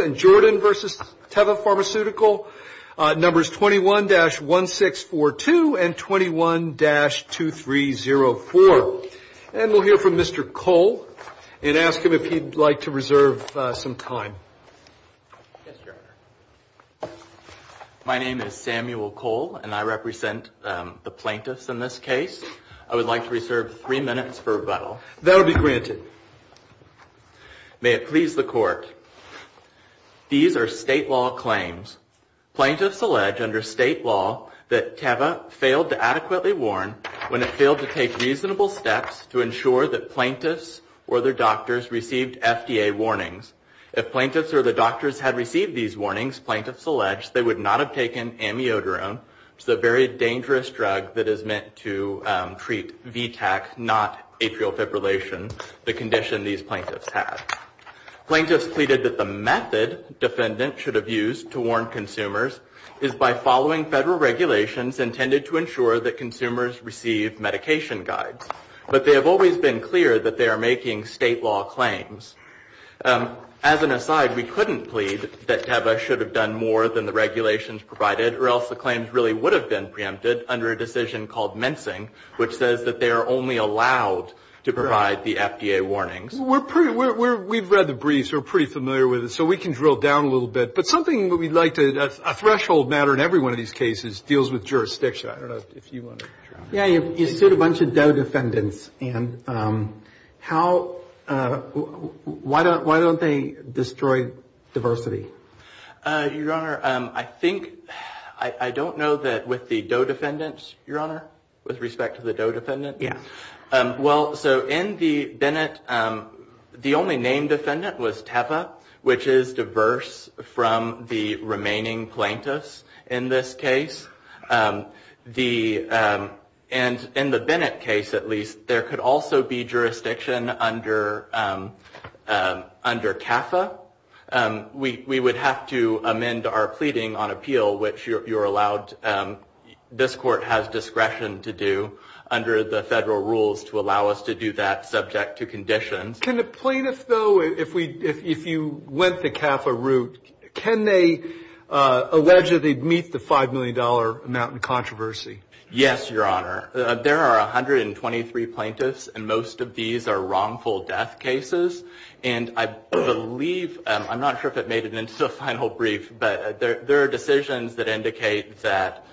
and Jordan v. Teva Pharmaceutical, numbers 21-1642 and 21-2304. And we'll hear from Mr. Cole and ask him if he'd like to reserve some time. Yes, Your Honor. My name is Samuel Cole, and I represent the plaintiffs in this case. I would like to reserve some time. I would like to reserve three minutes for rebuttal. That will be granted. May it please the Court. These are state law claims. Plaintiffs allege under state law that Teva failed to adequately warn when it failed to take reasonable steps to ensure that plaintiffs or their doctors received FDA warnings. If plaintiffs or the doctors had received these warnings, plaintiffs allege, they would not have taken amiodarone, which is a very dangerous drug that is meant to treat VTAC, not atrial fibrillation, the condition these plaintiffs had. Plaintiffs pleaded that the method defendants should have used to warn consumers is by following federal regulations intended to ensure that consumers receive medication guides. But they have always been clear that they are making state law claims. As an aside, we couldn't plead that Teva should have done more than the regulations provided, or else the claims really would have been preempted under a decision called mincing, which says that they are only allowed to provide the FDA warnings. We've read the briefs. We're pretty familiar with it. So we can drill down a little bit. But something that we'd like to – a threshold matter in every one of these cases deals with jurisdiction. I don't know if you want to – Yeah, you sued a bunch of Doe defendants. And how – why don't they destroy diversity? Your Honor, I think – I don't know that with the Doe defendants, Your Honor, with respect to the Doe defendants. Yeah. Well, so in the Bennett – the only named defendant was Teva, which is diverse from the remaining plaintiffs in this case. The – and in the Bennett case, at least, there could also be jurisdiction under CAFA. We would have to amend our pleading on appeal, which you're allowed – this court has discretion to do under the federal rules to allow us to do that subject to conditions. Can the plaintiffs, though, if we – if you went the CAFA route, can they allege that they'd meet the $5 million amount in controversy? Yes, Your Honor. There are 123 plaintiffs, and most of these are wrongful death cases. And I believe – I'm not sure if it made it into the final brief, but there are decisions that indicate that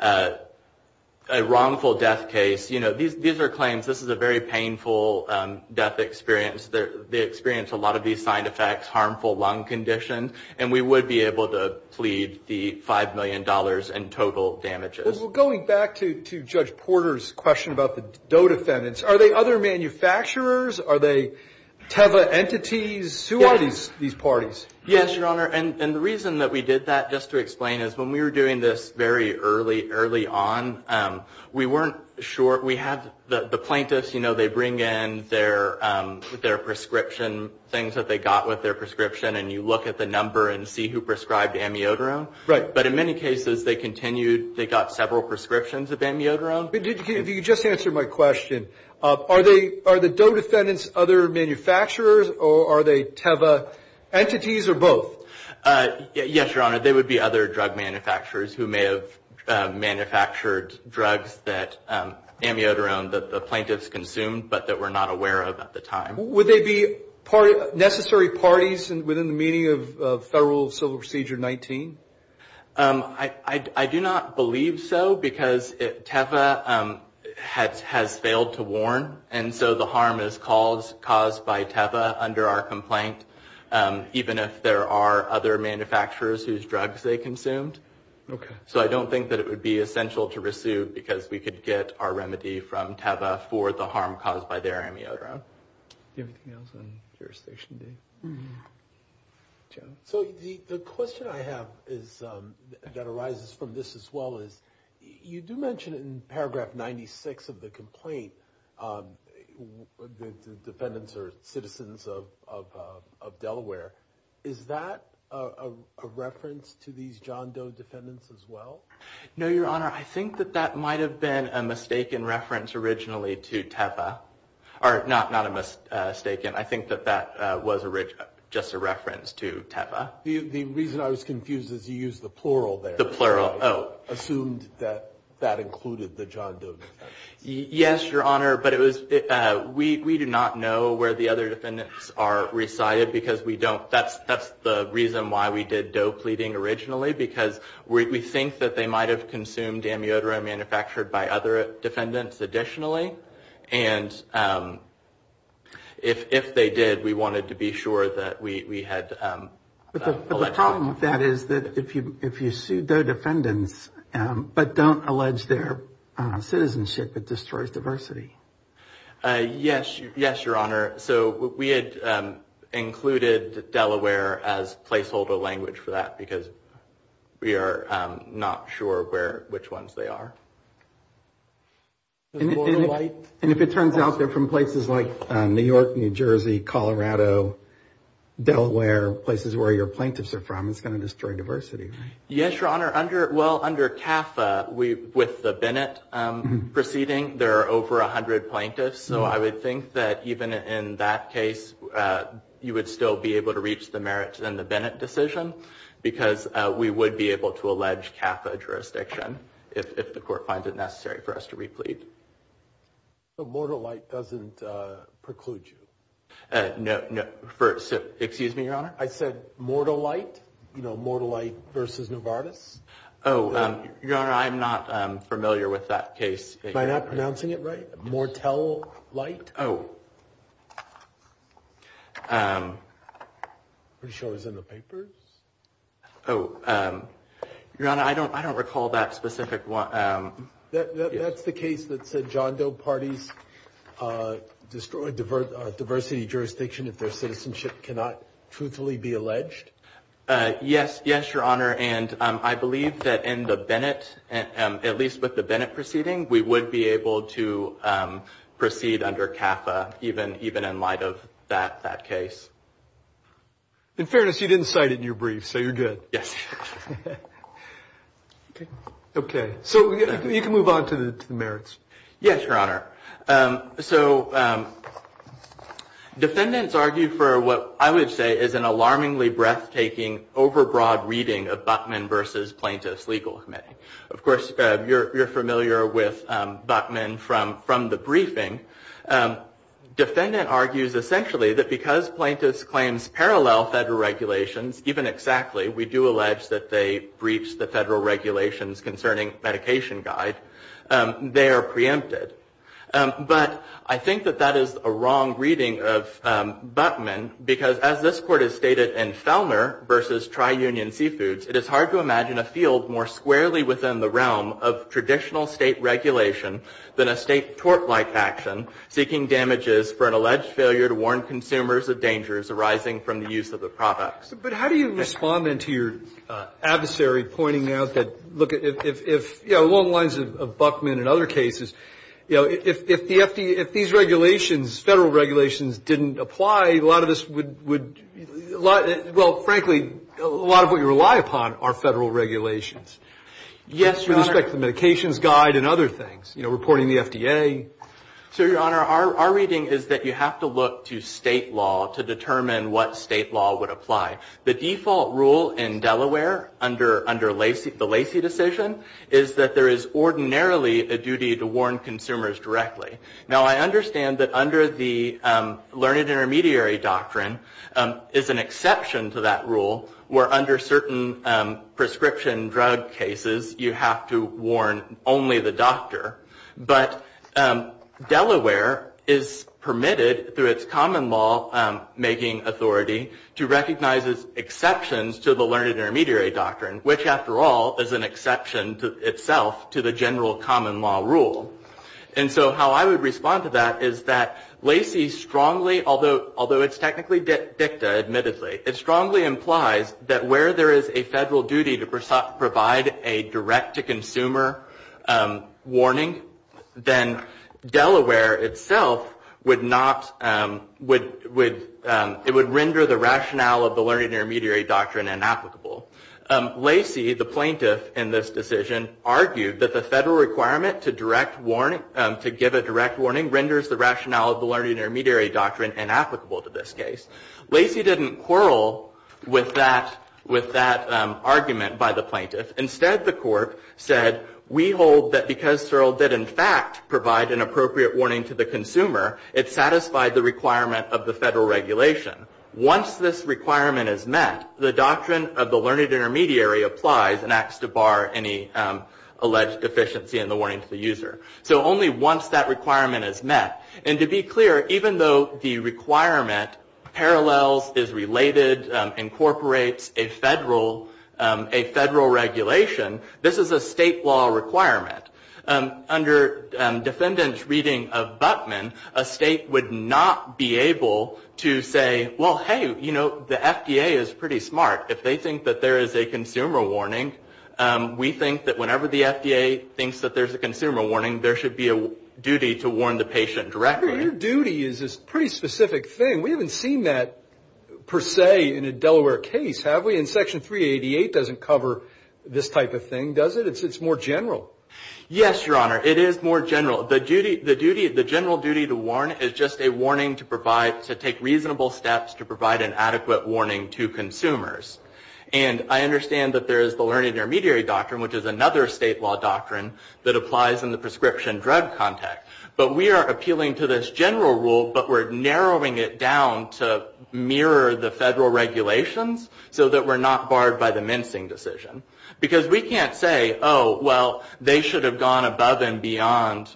a wrongful death case – you know, these are claims – this is a very painful death experience. They experience a lot of these side effects – harmful lung condition. And we would be able to plead the $5 million in total damages. Well, going back to Judge Porter's question about the Doe defendants, are they other manufacturers? Are they Teva entities? Who are these parties? Yes, Your Honor. And the reason that we did that, just to explain, is when we were doing this very early, early on, we weren't sure – we had – the plaintiffs, you know, they bring in their prescription – things that they got with their prescription, and you look at the number and see who prescribed amiodarone. Right. But in many cases, they continued – they got several prescriptions of amiodarone. If you could just answer my question, are they – are the Doe defendants other manufacturers, or are they Teva entities, or both? Yes, Your Honor. They would be other drug manufacturers who may have manufactured drugs that – amiodarone that the plaintiffs consumed but that we're not aware of at the time. Would they be necessary parties within the meaning of Federal Civil Procedure 19? I do not believe so, because Teva has failed to warn, and so the harm is caused by Teva under our complaint, even if there are other manufacturers whose drugs they consumed. Okay. So I don't think that it would be essential to resue because we could get our remedy from Teva for the harm caused by their amiodarone. Anything else on Jurisdiction Day? John? So the question I have is – that arises from this as well is, you do mention in paragraph 96 of the complaint that the defendants are citizens of Delaware. Is that a reference to these John Doe defendants as well? No, Your Honor. I think that that might have been a mistaken reference originally to Teva. Not a mistaken. I think that that was just a reference to Teva. The reason I was confused is you used the plural there. The plural, oh. I assumed that that included the John Doe defendants. Yes, Your Honor, but we do not know where the other defendants are resided because we don't – that's the reason why we did Doe pleading originally, because we think that they might have consumed amiodarone manufactured by other defendants additionally, and if they did, we wanted to be sure that we had – But the problem with that is that if you sue Doe defendants but don't allege their citizenship, it destroys diversity. Yes, Your Honor. So we had included Delaware as placeholder language for that because we are not sure which ones they are. And if it turns out they're from places like New York, New Jersey, Colorado, Delaware, places where your plaintiffs are from, it's going to destroy diversity, right? Yes, Your Honor. Well, under CAFA, with the Bennett proceeding, there are over 100 plaintiffs, so I would think that even in that case, you would still be able to reach the merits in the Bennett decision because we would be able to allege CAFA jurisdiction if the court finds it necessary for us to re-plead. So Mortallite doesn't preclude you? No. Excuse me, Your Honor? I said Mortallite, you know, Mortallite versus Novartis. Oh, Your Honor, I'm not familiar with that case. Am I not pronouncing it right? Mortell-lite? Oh. I'm pretty sure it was in the papers. Oh, Your Honor, I don't recall that specific one. That's the case that said John Doe parties destroy diversity jurisdiction if their citizenship cannot truthfully be alleged? Yes, Your Honor, and I believe that in the Bennett, at least with the Bennett proceeding, we would be able to proceed under CAFA even in light of that case. In fairness, you didn't cite it in your brief, so you're good. Yes. Okay, so you can move on to the merits. Yes, Your Honor. So defendants argue for what I would say is an alarmingly breathtaking, over-broad reading of Buckman versus plaintiffs legal committee. Of course, you're familiar with Buckman from the briefing. Defendant argues essentially that because plaintiffs claims parallel federal regulations, even exactly, we do allege that they breach the federal regulations concerning medication guide, they are preempted. But I think that that is a wrong reading of Buckman because, as this court has stated, in Felmer versus Tri-Union Seafoods, it is hard to imagine a field more squarely within the realm of traditional state regulation than a state tort-like action seeking damages for an alleged failure to warn consumers of dangers arising from the use of the products. But how do you respond then to your adversary pointing out that, look, if, you know, along the lines of Buckman and other cases, you know, if the FDA, if these regulations, federal regulations didn't apply, a lot of this would, well, frankly, a lot of what you rely upon are federal regulations. Yes, Your Honor. With respect to the medications guide and other things, you know, reporting the FDA. So, Your Honor, our reading is that you have to look to state law to determine what state law would apply. The default rule in Delaware under the Lacey decision is that there is ordinarily a duty to warn consumers directly. Now, I understand that under the Learned Intermediary Doctrine is an exception to that rule where, under certain prescription drug cases, you have to warn only the doctor. But Delaware is permitted, through its common law making authority, to recognize exceptions to the Learned Intermediary Doctrine, which, after all, is an exception itself to the general common law rule. And so how I would respond to that is that Lacey strongly, although it's technically dicta, admittedly, it strongly implies that where there is a federal duty to provide a direct-to-consumer warning, then Delaware itself would not, would, it would render the rationale of the Learned Intermediary Doctrine inapplicable. Lacey, the plaintiff in this decision, argued that the federal requirement to direct warning, to give a direct warning renders the rationale of the Learned Intermediary Doctrine inapplicable to this case. Lacey didn't quarrel with that, with that argument by the plaintiff. Instead, the court said, we hold that because Searle did, in fact, provide an appropriate warning to the consumer, it satisfied the requirement of the federal regulation. Once this requirement is met, the doctrine of the Learned Intermediary applies and acts to bar any alleged deficiency in the warning to the user. So only once that requirement is met. And to be clear, even though the requirement parallels, is related, incorporates a federal, a federal regulation, this is a state law requirement. Under defendant's reading of Butman, a state would not be able to say, well, hey, you know, the FDA is pretty smart. If they think that there is a consumer warning, we think that whenever the FDA thinks that there's a consumer warning, there should be a duty to warn the patient directly. Your duty is a pretty specific thing. We haven't seen that per se in a Delaware case, have we? And Section 388 doesn't cover this type of thing, does it? It's more general. Yes, Your Honor. It is more general. The duty, the general duty to warn is just a warning to provide, to take reasonable steps to provide an adequate warning to consumers. And I understand that there is the Learned Intermediary doctrine, which is another state law doctrine that applies in the prescription drug context. But we are appealing to this general rule, but we're narrowing it down to mirror the federal regulations so that we're not barred by the mincing decision. Because we can't say, oh, well, they should have gone above and beyond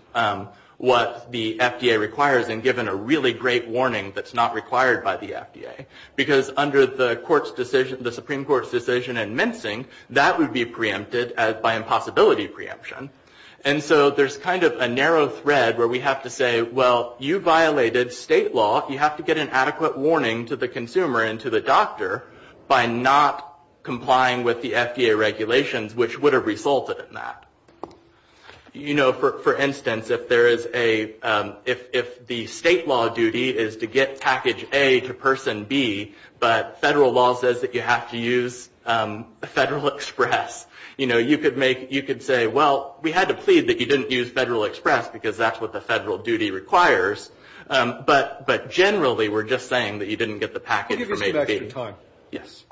what the FDA requires and given a really great warning that's not required by the FDA. Because under the Supreme Court's decision in mincing, that would be preempted by impossibility preemption. And so there's kind of a narrow thread where we have to say, well, you violated state law. You have to get an adequate warning to the consumer and to the doctor by not complying with the FDA regulations, which would have resulted in that. You know, for instance, if the state law duty is to get package A to person B, but federal law says that you have to use Federal Express, you know, you could say, well, we had to plead that you didn't use Federal Express because that's what the federal duty requires. But generally, we're just saying that you didn't get the package from A to B. Can you give us some extra time? Yes.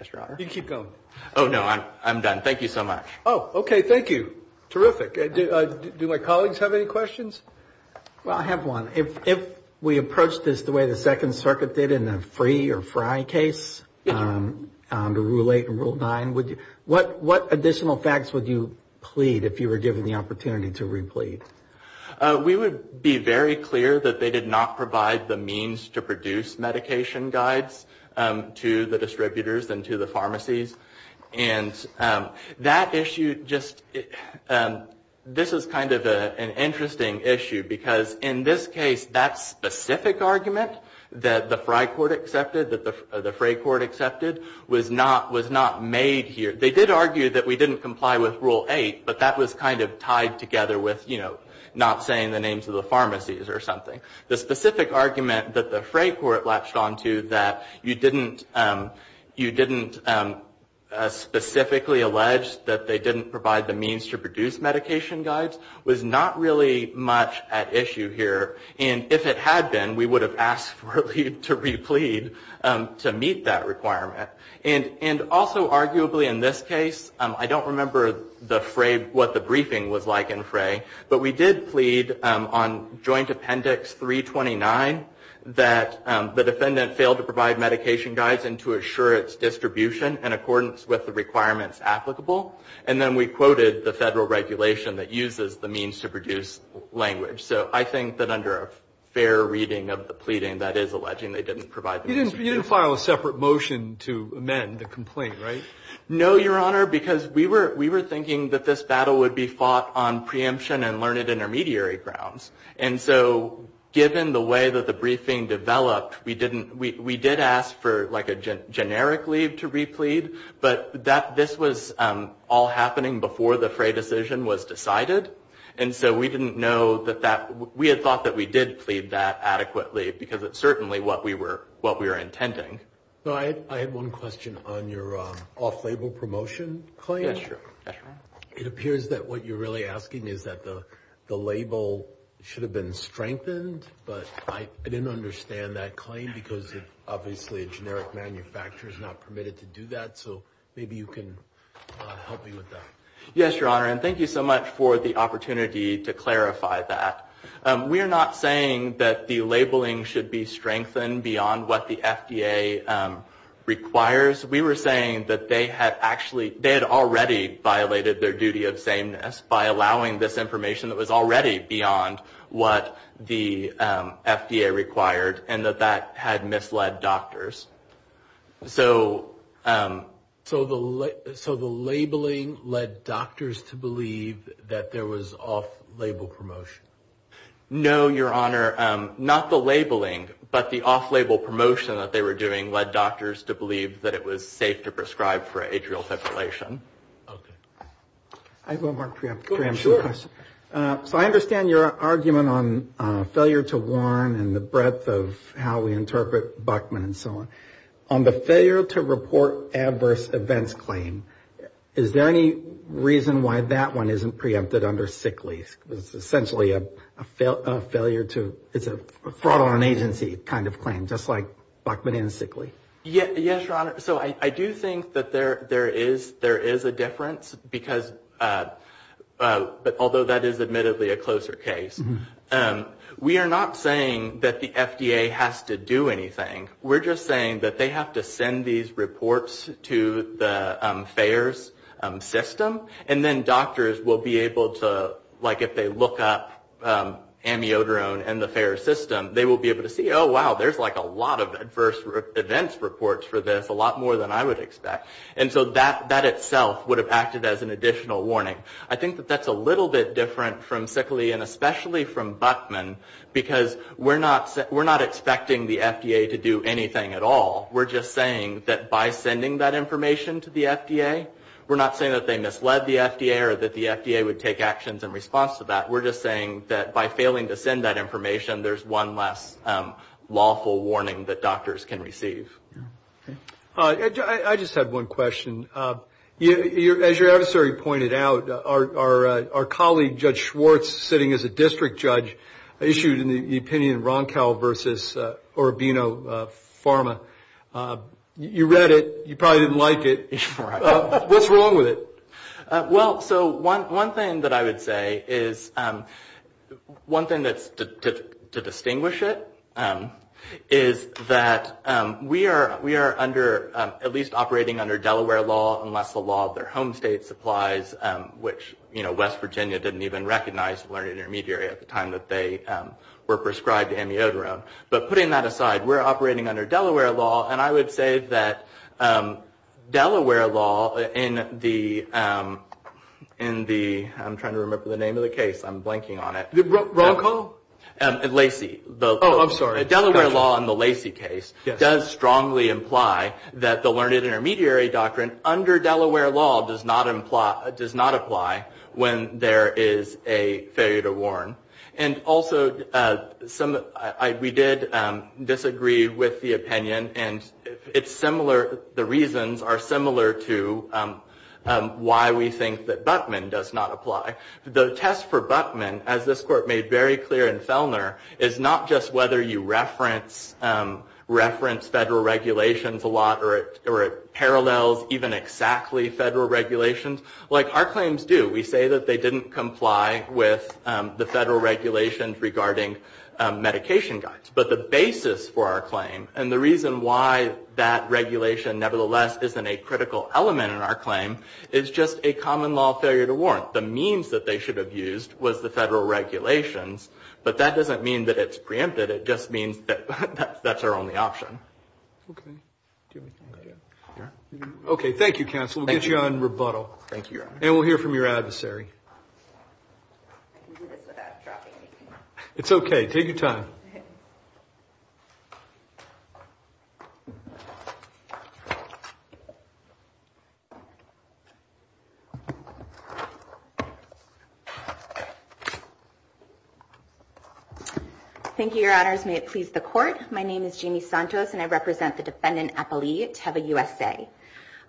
Yes, Your Honor. You can keep going. Oh, no. I'm done. Thank you so much. Oh, okay. Thank you. Terrific. Do my colleagues have any questions? Well, I have one. If we approach this the way the Second Circuit did in the free or fry case, under Rule 8 and Rule 9, what additional facts would you plead if you were given the opportunity to replead? We would be very clear that they did not provide the means to produce medication guides to the distributors and to the pharmacies. And that issue just, this is kind of an interesting issue because in this case, that specific argument that the fry court accepted, that the fray court accepted, was not made here. They did argue that we didn't comply with Rule 8, but that was kind of tied together with, you know, not saying the names of the pharmacies or something. The specific argument that the fray court latched onto that you didn't specifically allege that they didn't provide the means to produce medication guides was not really much at issue here. And if it had been, we would have asked for you to replead to meet that requirement. And also arguably in this case, I don't remember the fray, what the briefing was like in fray, but we did plead on Joint Appendix 329 that the defendant failed to provide medication guides and to assure its distribution in accordance with the requirements applicable. And then we quoted the federal regulation that uses the means to produce language. So I think that under a fair reading of the pleading that is alleging they didn't provide the means to produce. You didn't file a separate motion to amend the complaint, right? No, Your Honor, because we were thinking that this battle would be fought on preemption and learned intermediary grounds. And so given the way that the briefing developed, we did ask for like a generic leave to replead, but this was all happening before the fray decision was decided. And so we didn't know that that we had thought that we did plead that adequately because it's certainly what we were what we were intending. I had one question on your off-label promotion claim. It appears that what you're really asking is that the label should have been strengthened, but I didn't understand that claim because obviously a generic manufacturer is not permitted to do that. So maybe you can help me with that. Yes, Your Honor, and thank you so much for the opportunity to clarify that. We are not saying that the labeling should be strengthened beyond what the FDA requires. We were saying that they had actually they had already violated their duty of sameness by allowing this information that was already beyond what the FDA required and that that had misled doctors. So so the so the labeling led doctors to believe that there was off-label promotion. No, Your Honor. Not the labeling, but the off-label promotion that they were doing led doctors to believe that it was safe to prescribe for atrial fibrillation. I have one more preemptive question. So I understand your argument on failure to warn and the breadth of how we interpret Buckman and so on. On the failure to report adverse events claim, is there any reason why that one isn't preempted under sick leave? It's essentially a failure to it's a fraud on agency kind of claim, just like Buckman and sick leave. Yes, Your Honor. So I do think that there there is there is a difference because although that is admittedly a closer case, we are not saying that the FDA has to do anything. We're just saying that they have to send these reports to the FAERS system. And then doctors will be able to like if they look up amiodarone and the FAERS system, they will be able to see, oh, wow, there's like a lot of adverse events reports for this, a lot more than I would expect. And so that itself would have acted as an additional warning. I think that that's a little bit different from sick leave and especially from Buckman because we're not expecting the FDA to do anything at all. We're just saying that by sending that information to the FDA, we're not saying that they misled the FDA or that the FDA would take actions in response to that. We're just saying that by failing to send that information, there's one less lawful warning that doctors can receive. I just have one question. As your adversary pointed out, our colleague, Judge Schwartz, sitting as a district judge, issued an opinion, Roncow versus Urbino Pharma. You read it. You probably didn't like it. What's wrong with it? Well, so one thing that I would say is, one thing to distinguish it, is that we are at least operating under Delaware law unless the law of their home state supplies, which West Virginia didn't even recognize the learning intermediary at the time that they were prescribed amiodarone. But putting that aside, we're operating under Delaware law, and I would say that Delaware law in the, I'm trying to remember the name of the case. I'm blanking on it. Roncow? Lacy. Oh, I'm sorry. Delaware law in the Lacy case does strongly imply that the learned intermediary doctrine under Delaware law does not apply when there is a failure to warn. And also, we did disagree with the opinion, and it's similar, the reasons are similar to why we think that Buttman does not apply. The test for Buttman, as this court made very clear in Fellner, is not just whether you reference federal regulations a lot or it parallels even exactly federal regulations. Like, our claims do. We say that they didn't comply with the federal regulations regarding medication guides. But the basis for our claim and the reason why that regulation nevertheless isn't a critical element in our claim is just a common law failure to warn. The means that they should have used was the federal regulations, but that doesn't mean that it's preempted. It just means that that's our only option. Okay. Okay, thank you, counsel. We'll get you on rebuttal. Thank you. And we'll hear from your adversary. I can do this without dropping anything. It's okay. Take your time. Thank you, your honors. May it please the court. My name is Jamie Santos, and I represent the defendant Appali Teva USA.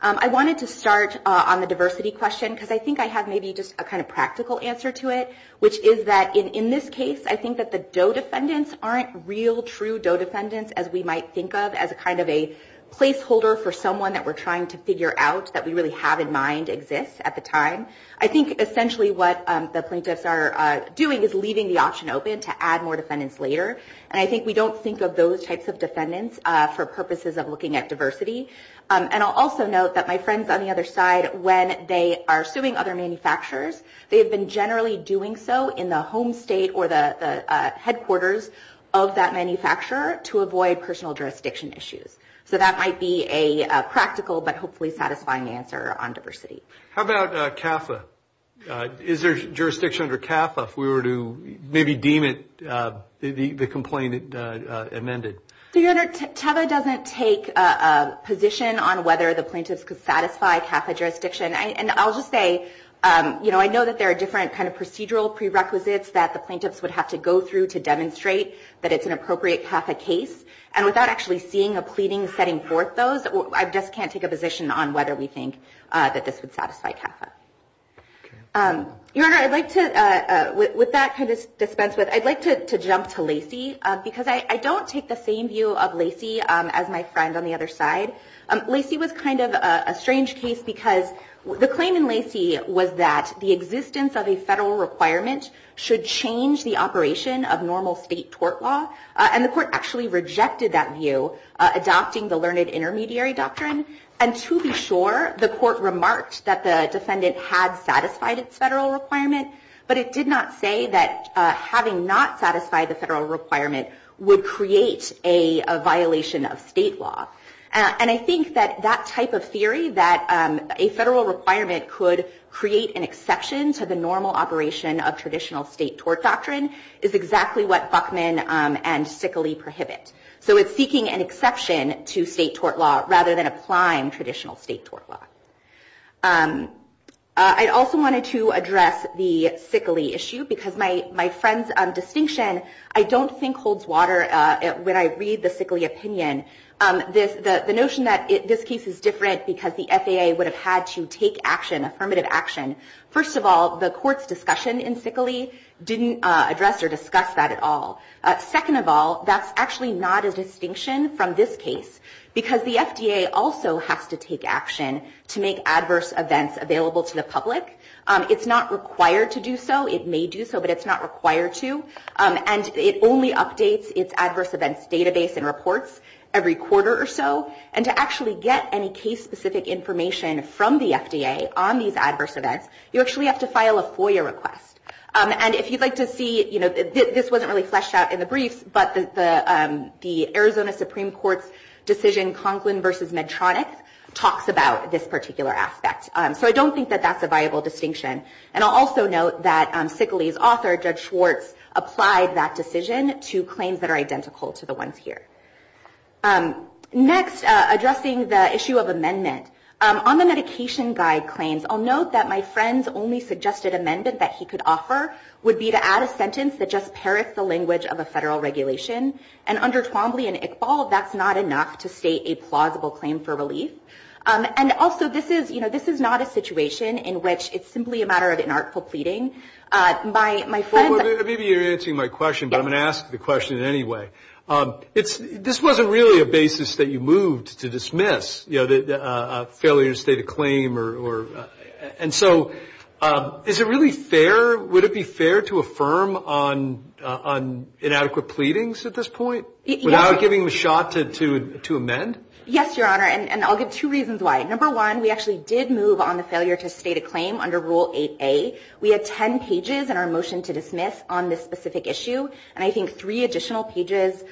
I wanted to start on the diversity question, because I think I have maybe just a kind of practical answer to it, which is that in this case, I think that the DOE defendants aren't real, true DOE defendants, as we might think of as a kind of a placeholder for someone that we're trying to figure out, that we really have in mind exists at the time. I think essentially what the plaintiffs are doing is leaving the option open to add more defendants later. And I think we don't think of those types of defendants for purposes of looking at diversity. And I'll also note that my friends on the other side, when they are suing other manufacturers, they have been generally doing so in the home state or the headquarters of that manufacturer to avoid personal jurisdiction issues. So that might be a practical but hopefully satisfying answer on diversity. How about CAFA? Is there jurisdiction under CAFA if we were to maybe deem it, the complaint amended? Your Honor, TEVA doesn't take a position on whether the plaintiffs could satisfy CAFA jurisdiction. And I'll just say, you know, I know that there are different kind of procedural prerequisites that the plaintiffs would have to go through to demonstrate that it's an appropriate CAFA case. And without actually seeing a pleading setting forth those, I just can't take a position on whether we think that this would satisfy CAFA. Your Honor, I'd like to, with that kind of dispense, I'd like to jump to Lacey, because I don't take the same view of Lacey as my friend on the other side. Lacey was kind of a strange case because the claim in Lacey was that the existence of a federal requirement should change the operation of normal state tort law. And the court actually rejected that view, adopting the learned intermediary doctrine. And to be sure, the court remarked that the defendant had satisfied its federal requirement. But it did not say that having not satisfied the federal requirement would create a violation of state law. And I think that that type of theory, that a federal requirement could create an exception to the normal operation of traditional state tort doctrine, is exactly what Buckman and Sickley prohibit. So it's seeking an exception to state tort law rather than applying traditional state tort law. I also wanted to address the Sickley issue because my friend's distinction, I don't think holds water when I read the Sickley opinion. The notion that this case is different because the FAA would have had to take action, affirmative action. First of all, the court's discussion in Sickley didn't address or discuss that at all. Second of all, that's actually not a distinction from this case, because the FDA also has to take action to make adverse events available to the public. It's not required to do so. It may do so, but it's not required to. And it only updates its adverse events database and reports every quarter or so. And to actually get any case-specific information from the FDA on these adverse events, you actually have to file a FOIA request. And if you'd like to see, you know, this wasn't really fleshed out in the briefs, but the Arizona Supreme Court's decision, Conklin v. Medtronic, talks about this particular aspect. So I don't think that that's a viable distinction. And I'll also note that Sickley's author, Judge Schwartz, applied that decision to claims that are identical to the ones here. Next, addressing the issue of amendment. On the medication guide claims, I'll note that my friend's only suggested amendment that he could offer would be to add a sentence that just parrots the language of a federal regulation. And under Twombly and Iqbal, that's not enough to state a plausible claim for relief. And also, this is, you know, this is not a situation in which it's simply a matter of inartful pleading. My friend's- Well, maybe you're answering my question, but I'm going to ask the question anyway. This wasn't really a basis that you moved to dismiss, you know, a failure to state a claim. And so is it really fair, would it be fair to affirm on inadequate pleadings at this point? Without giving them a shot to amend? Yes, Your Honor, and I'll give two reasons why. Number one, we actually did move on the failure to state a claim under Rule 8A. We had 10 pages in our motion to dismiss on this specific issue, and I think three additional pages in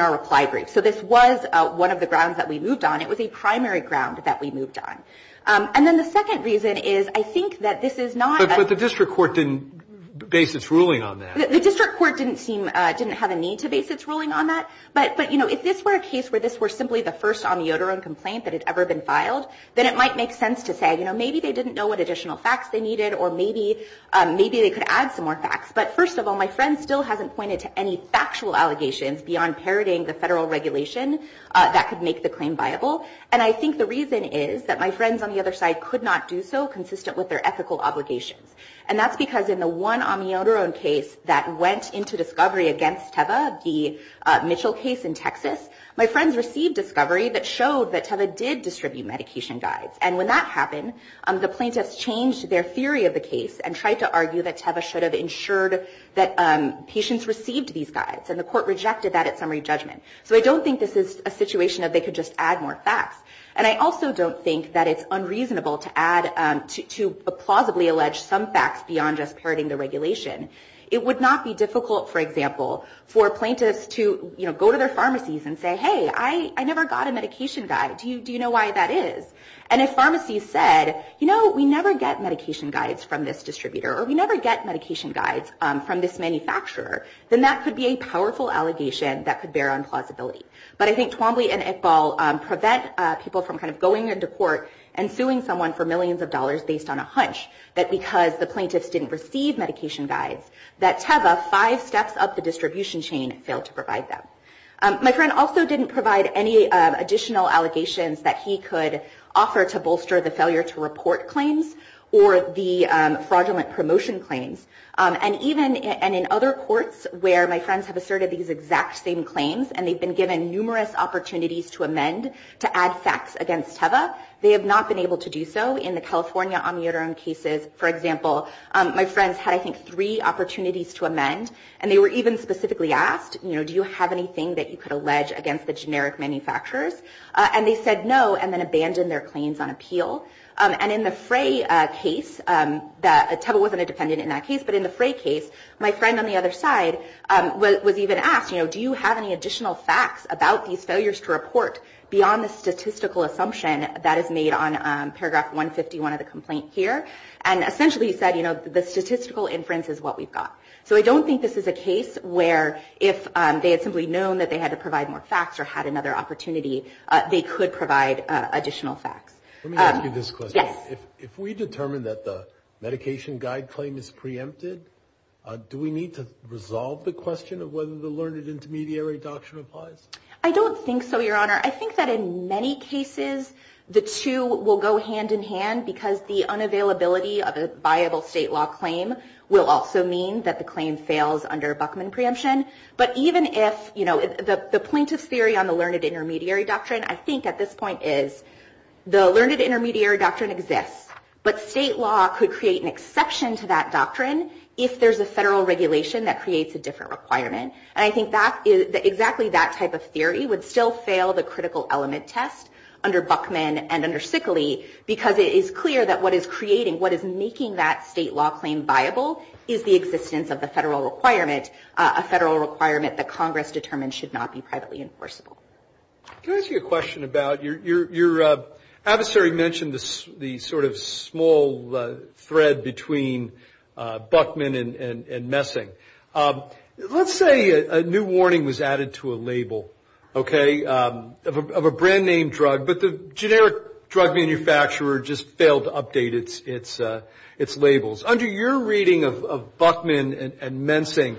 our reply brief. So this was one of the grounds that we moved on. It was a primary ground that we moved on. And then the second reason is, I think that this is not- But the district court didn't base its ruling on that. The district court didn't seem- didn't have a need to base its ruling on that. But, you know, if this were a case where this were simply the first on the odorant complaint that had ever been filed, then it might make sense to say, you know, maybe they didn't know what additional facts they needed, or maybe they could add some more facts. But first of all, my friend still hasn't pointed to any factual allegations beyond parroting the federal regulation that could make the claim viable. And I think the reason is that my friends on the other side could not do so consistent with their ethical obligations. And that's because in the one on the odorant case that went into discovery against Teva, the Mitchell case in Texas, my friends received discovery that showed that Teva did distribute medication guides. And when that happened, the plaintiffs changed their theory of the case and tried to argue that Teva should have ensured that patients received these guides, and the court rejected that at summary judgment. So I don't think this is a situation that they could just add more facts. And I also don't think that it's unreasonable to add, to plausibly allege some facts beyond just parroting the regulation. It would not be difficult, for example, for plaintiffs to, you know, go to their pharmacies and say, hey, I never got a medication guide. Do you know why that is? And if pharmacies said, you know, we never get medication guides from this distributor, or we never get medication guides from this manufacturer, then that could be a powerful allegation that could bear on plausibility. But I think Twombly and Iqbal prevent people from kind of going into court and suing someone for millions of dollars based on a hunch that because the plaintiffs didn't receive medication guides, that Teva, five steps up the distribution chain, failed to provide them. My friend also didn't provide any additional allegations that he could offer to bolster the failure to report claims or the fraudulent promotion claims. And even in other courts where my friends have asserted these exact same claims and they've been given numerous opportunities to amend, to add facts against Teva, they have not been able to do so. In the California Amiodarone cases, for example, my friends had, I think, three opportunities to amend, and they were even specifically asked, you know, do you have anything that you could allege against the generic manufacturers? And they said no and then abandoned their claims on appeal. And in the Frey case, Teva wasn't a defendant in that case, but in the Frey case, my friend on the other side was even asked, you know, do you have any additional facts about these failures to report beyond the statistical assumption that is made on paragraph 151 of the complaint here? And essentially he said, you know, the statistical inference is what we've got. So I don't think this is a case where if they had simply known that they had to provide more facts or had another opportunity, they could provide additional facts. Let me ask you this question. Yes. If we determine that the medication guide claim is preempted, do we need to resolve the question of whether the learned intermediary doctrine applies? I don't think so, Your Honor. I think that in many cases the two will go hand in hand because the unavailability of a viable state law claim will also mean that the claim fails under Buckman preemption. But even if, you know, the plaintiff's theory on the learned intermediary doctrine, I think at this point is the learned intermediary doctrine exists, but state law could create an exception to that doctrine if there's a federal regulation that creates a different requirement. And I think that is exactly that type of theory would still fail the critical element test under Buckman and under Sickley because it is clear that what is creating, what is making that state law claim viable is the existence of the federal requirement, a federal requirement that Congress determined should not be privately enforceable. Can I ask you a question about your adversary mentioned the sort of small thread between Buckman and Mensing. Let's say a new warning was added to a label, okay, of a brand-name drug, but the generic drug manufacturer just failed to update its labels. Under your reading of Buckman and Mensing,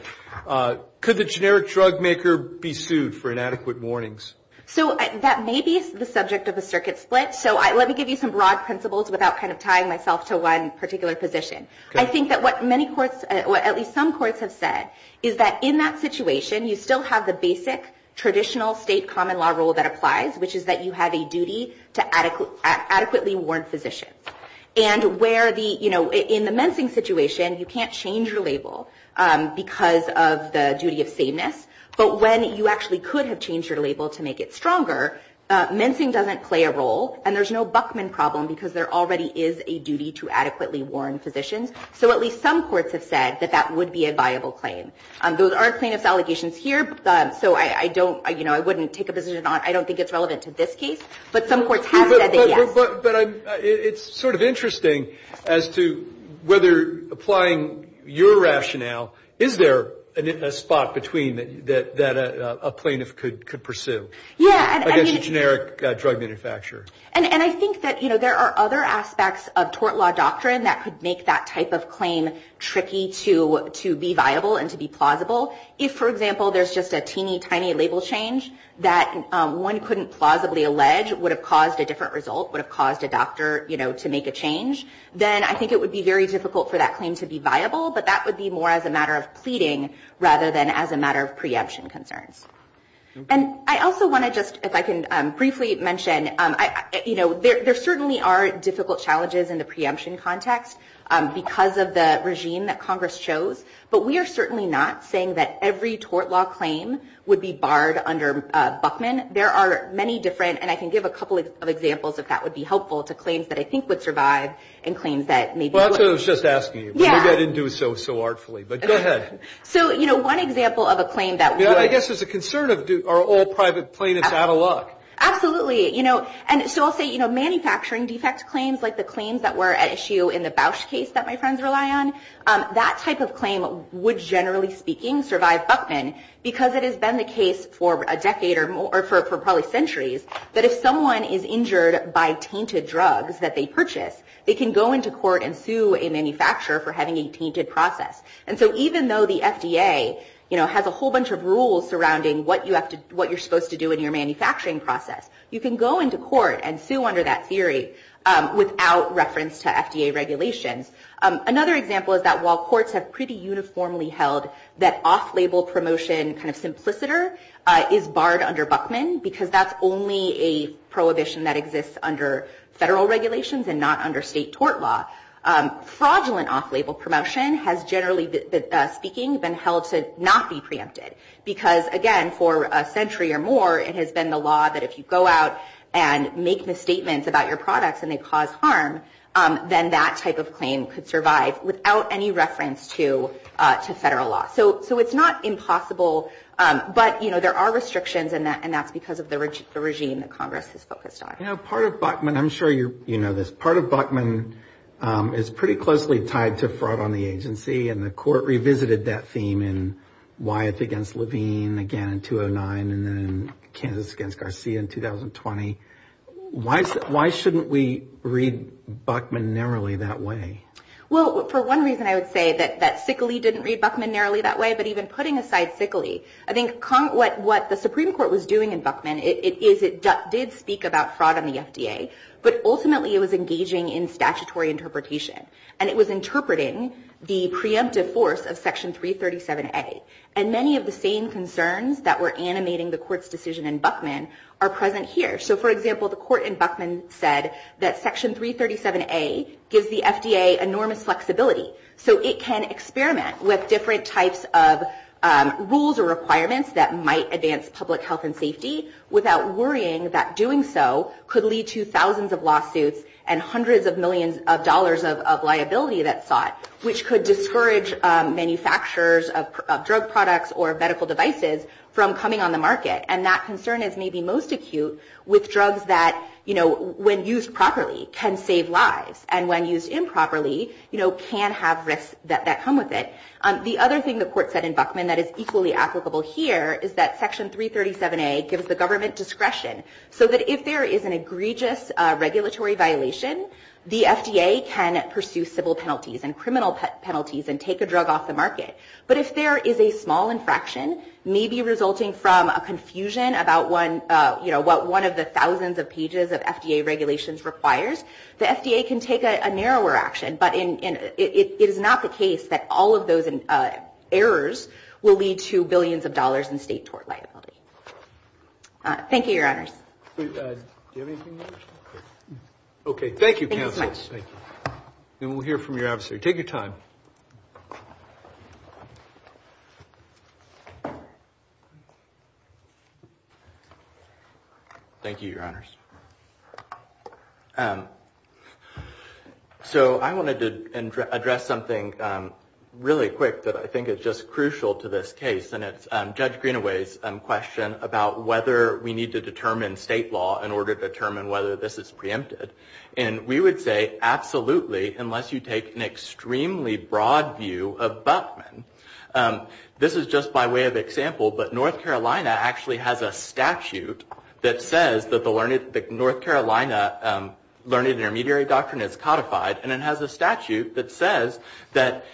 could the generic drug maker be sued for inadequate warnings? So that may be the subject of a circuit split, so let me give you some broad principles without kind of tying myself to one particular position. I think that what many courts, at least some courts have said, is that in that situation you still have the basic traditional state common law rule that applies, which is that you have a duty to adequately warn physicians. And where the, you know, in the Mensing situation you can't change your label because of the duty of sameness, but when you actually could have changed your label to make it stronger, Mensing doesn't play a role and there's no Buckman problem because there already is a duty to adequately warn physicians. So at least some courts have said that that would be a viable claim. There are plaintiff's allegations here, so I don't, you know, I wouldn't take a position on it. I don't think it's relevant to this case, but some courts have said that, yes. But it's sort of interesting as to whether applying your rationale, is there a spot between that a plaintiff could pursue against a generic drug manufacturer? And I think that, you know, there are other aspects of tort law doctrine that could make that type of claim tricky to be viable and to be plausible. If, for example, there's just a teeny tiny label change that one couldn't plausibly allege would have caused a different result, would have caused a doctor, you know, to make a change, then I think it would be very difficult for that claim to be viable. But that would be more as a matter of pleading rather than as a matter of preemption concerns. And I also want to just, if I can briefly mention, you know, there certainly are difficult challenges in the preemption context because of the regime that Congress chose. But we are certainly not saying that every tort law claim would be barred under Buckman. There are many different, and I can give a couple of examples if that would be helpful, to claims that I think would survive and claims that maybe wouldn't. Well, that's what I was just asking you. Yeah. Maybe I didn't do it so artfully. But go ahead. So, you know, one example of a claim that would. I guess there's a concern of are all private plaintiffs out of luck? Absolutely. You know, and so I'll say, you know, manufacturing defect claims, like the claims that were at issue in the Bausch case that my friends rely on, that type of claim would, generally speaking, survive Buckman because it has been the case for a decade or more, or for probably centuries, that if someone is injured by tainted drugs that they purchase, they can go into court and sue a manufacturer for having a tainted process. And so even though the FDA, you know, has a whole bunch of rules surrounding what you have to, what you're supposed to do in your manufacturing process, you can go into court and sue under that theory without reference to FDA regulations. Another example is that while courts have pretty uniformly held that off-label promotion kind of simpliciter is barred under Buckman because that's only a prohibition that exists under federal regulations and not under state tort law, fraudulent off-label promotion has generally, speaking, been held to not be preempted because, again, for a century or more, it has been the law that if you go out and make misstatements about your products and they cause harm, then that type of claim could survive without any reference to federal law. So it's not impossible, but, you know, there are restrictions and that's because of the regime that Congress has focused on. You know, part of Buckman, I'm sure you know this, part of Buckman is pretty closely tied to fraud on the agency and the court revisited that theme in Wyeth against Levine, again, in 2009, and then in Kansas against Garcia in 2020. Why shouldn't we read Buckman narrowly that way? Well, for one reason I would say that Sickley didn't read Buckman narrowly that way, but even putting aside Sickley, I think what the Supreme Court was doing in Buckman is it did speak about fraud on the FDA, but ultimately it was engaging in statutory interpretation and it was interpreting the preemptive force of Section 337A and many of the same concerns that were animating the court's decision in Buckman are present here. So, for example, the court in Buckman said that Section 337A gives the FDA enormous flexibility, so it can experiment with different types of rules or requirements that might advance public health and safety without worrying that doing so could lead to thousands of lawsuits and hundreds of millions of dollars of liability that's sought, which could discourage manufacturers of drug products or medical devices from coming on the market. And that concern is maybe most acute with drugs that, when used properly, can save lives, and when used improperly, can have risks that come with it. The other thing the court said in Buckman that is equally applicable here is that Section 337A gives the government discretion so that if there is an egregious regulatory violation, the FDA can pursue civil penalties and criminal penalties and take a drug off the market. But if there is a small infraction, maybe resulting from a confusion about what one of the thousands of pages of FDA regulations requires, the FDA can take a narrower action. But it is not the case that all of those errors will lead to billions of dollars in state tort liability. Thank you, Your Honors. Do you have anything else? Okay. Thank you, Counsel. Thank you so much. And we'll hear from your adversary. Take your time. Thank you. Thank you, Your Honors. So I wanted to address something really quick that I think is just crucial to this case, and it's Judge Greenaway's question about whether we need to determine state law in order to determine whether this is preempted. And we would say absolutely, unless you take an extremely broad view of Buchman. This is just by way of example, but North Carolina actually has a statute that says that the North Carolina learning intermediary doctrine is codified, and it has a statute that says that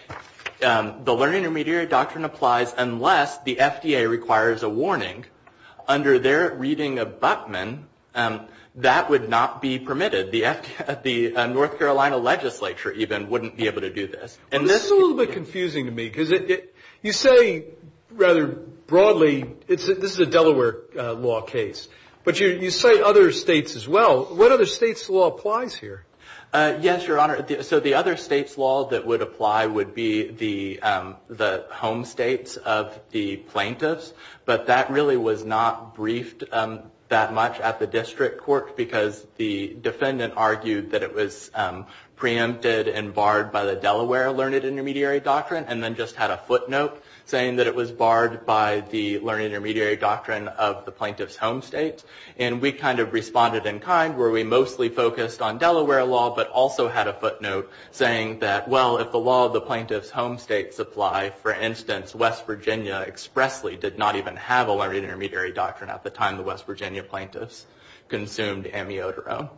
the learning intermediary doctrine applies unless the FDA requires a warning. Under their reading of Buchman, that would not be permitted. The North Carolina legislature even wouldn't be able to do this. This is a little bit confusing to me because you say rather broadly, this is a Delaware law case, but you say other states as well. What other state's law applies here? Yes, Your Honor. So the other state's law that would apply would be the home states of the plaintiffs, but that really was not briefed that much at the district court because the defendant argued that it was preempted and barred by the Delaware learning intermediary doctrine, and then just had a footnote saying that it was barred by the learning intermediary doctrine of the plaintiff's home state. And we kind of responded in kind where we mostly focused on Delaware law, but also had a footnote saying that, well, if the law of the plaintiff's home state supply, for instance, West Virginia expressly did not even have a learning intermediary doctrine at the time the West Virginia plaintiffs consumed amiodarone.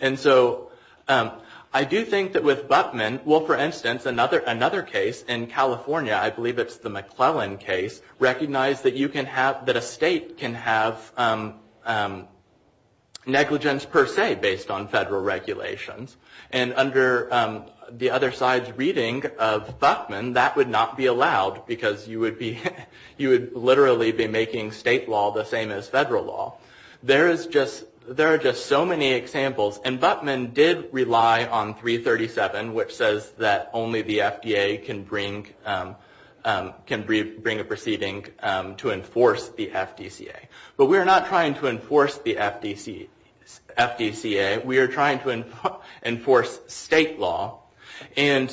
And so I do think that with Buchman, well, for instance, another case in California, I believe it's the McClellan case, recognized that you can have, that a state can have negligence per se based on federal regulations. And under the other side's reading of Buchman, that would not be allowed because you would literally be making state law the same as federal law. There are just so many examples. And Buchman did rely on 337, which says that only the FDA can bring a proceeding to enforce the FDCA. But we are not trying to enforce the FDCA. We are trying to enforce state law. And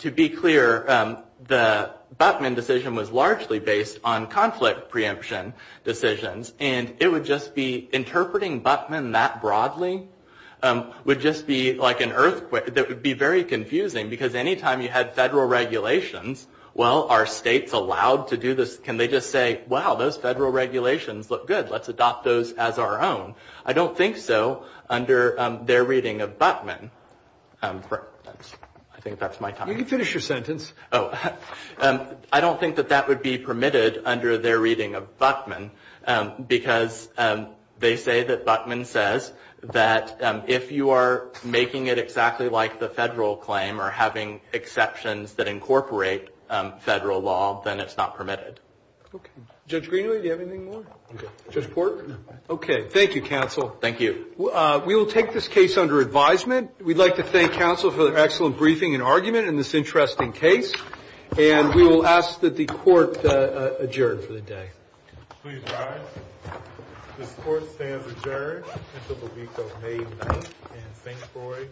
to be clear, the Buchman decision was largely based on conflict preemption decisions. And it would just be interpreting Buchman that broadly would just be like an earthquake. That would be very confusing because any time you had federal regulations, well, are states allowed to do this? Can they just say, wow, those federal regulations look good. Let's adopt those as our own. I don't think so under their reading of Buchman. I think that's my time. You can finish your sentence. Oh. I don't think that that would be permitted under their reading of Buchman because they say that Buchman says that if you are making it exactly like the federal claim or having exceptions that incorporate federal law, then it's not permitted. Okay. Judge Greenlee, do you have anything more? Okay. Judge Pork? Okay. Thank you, counsel. Thank you. We will take this case under advisement. We'd like to thank counsel for the excellent briefing and argument in this interesting case. And we will ask that the court adjourn for the day. Please rise. This court stands adjourned until the week of May 9th in St. Louis.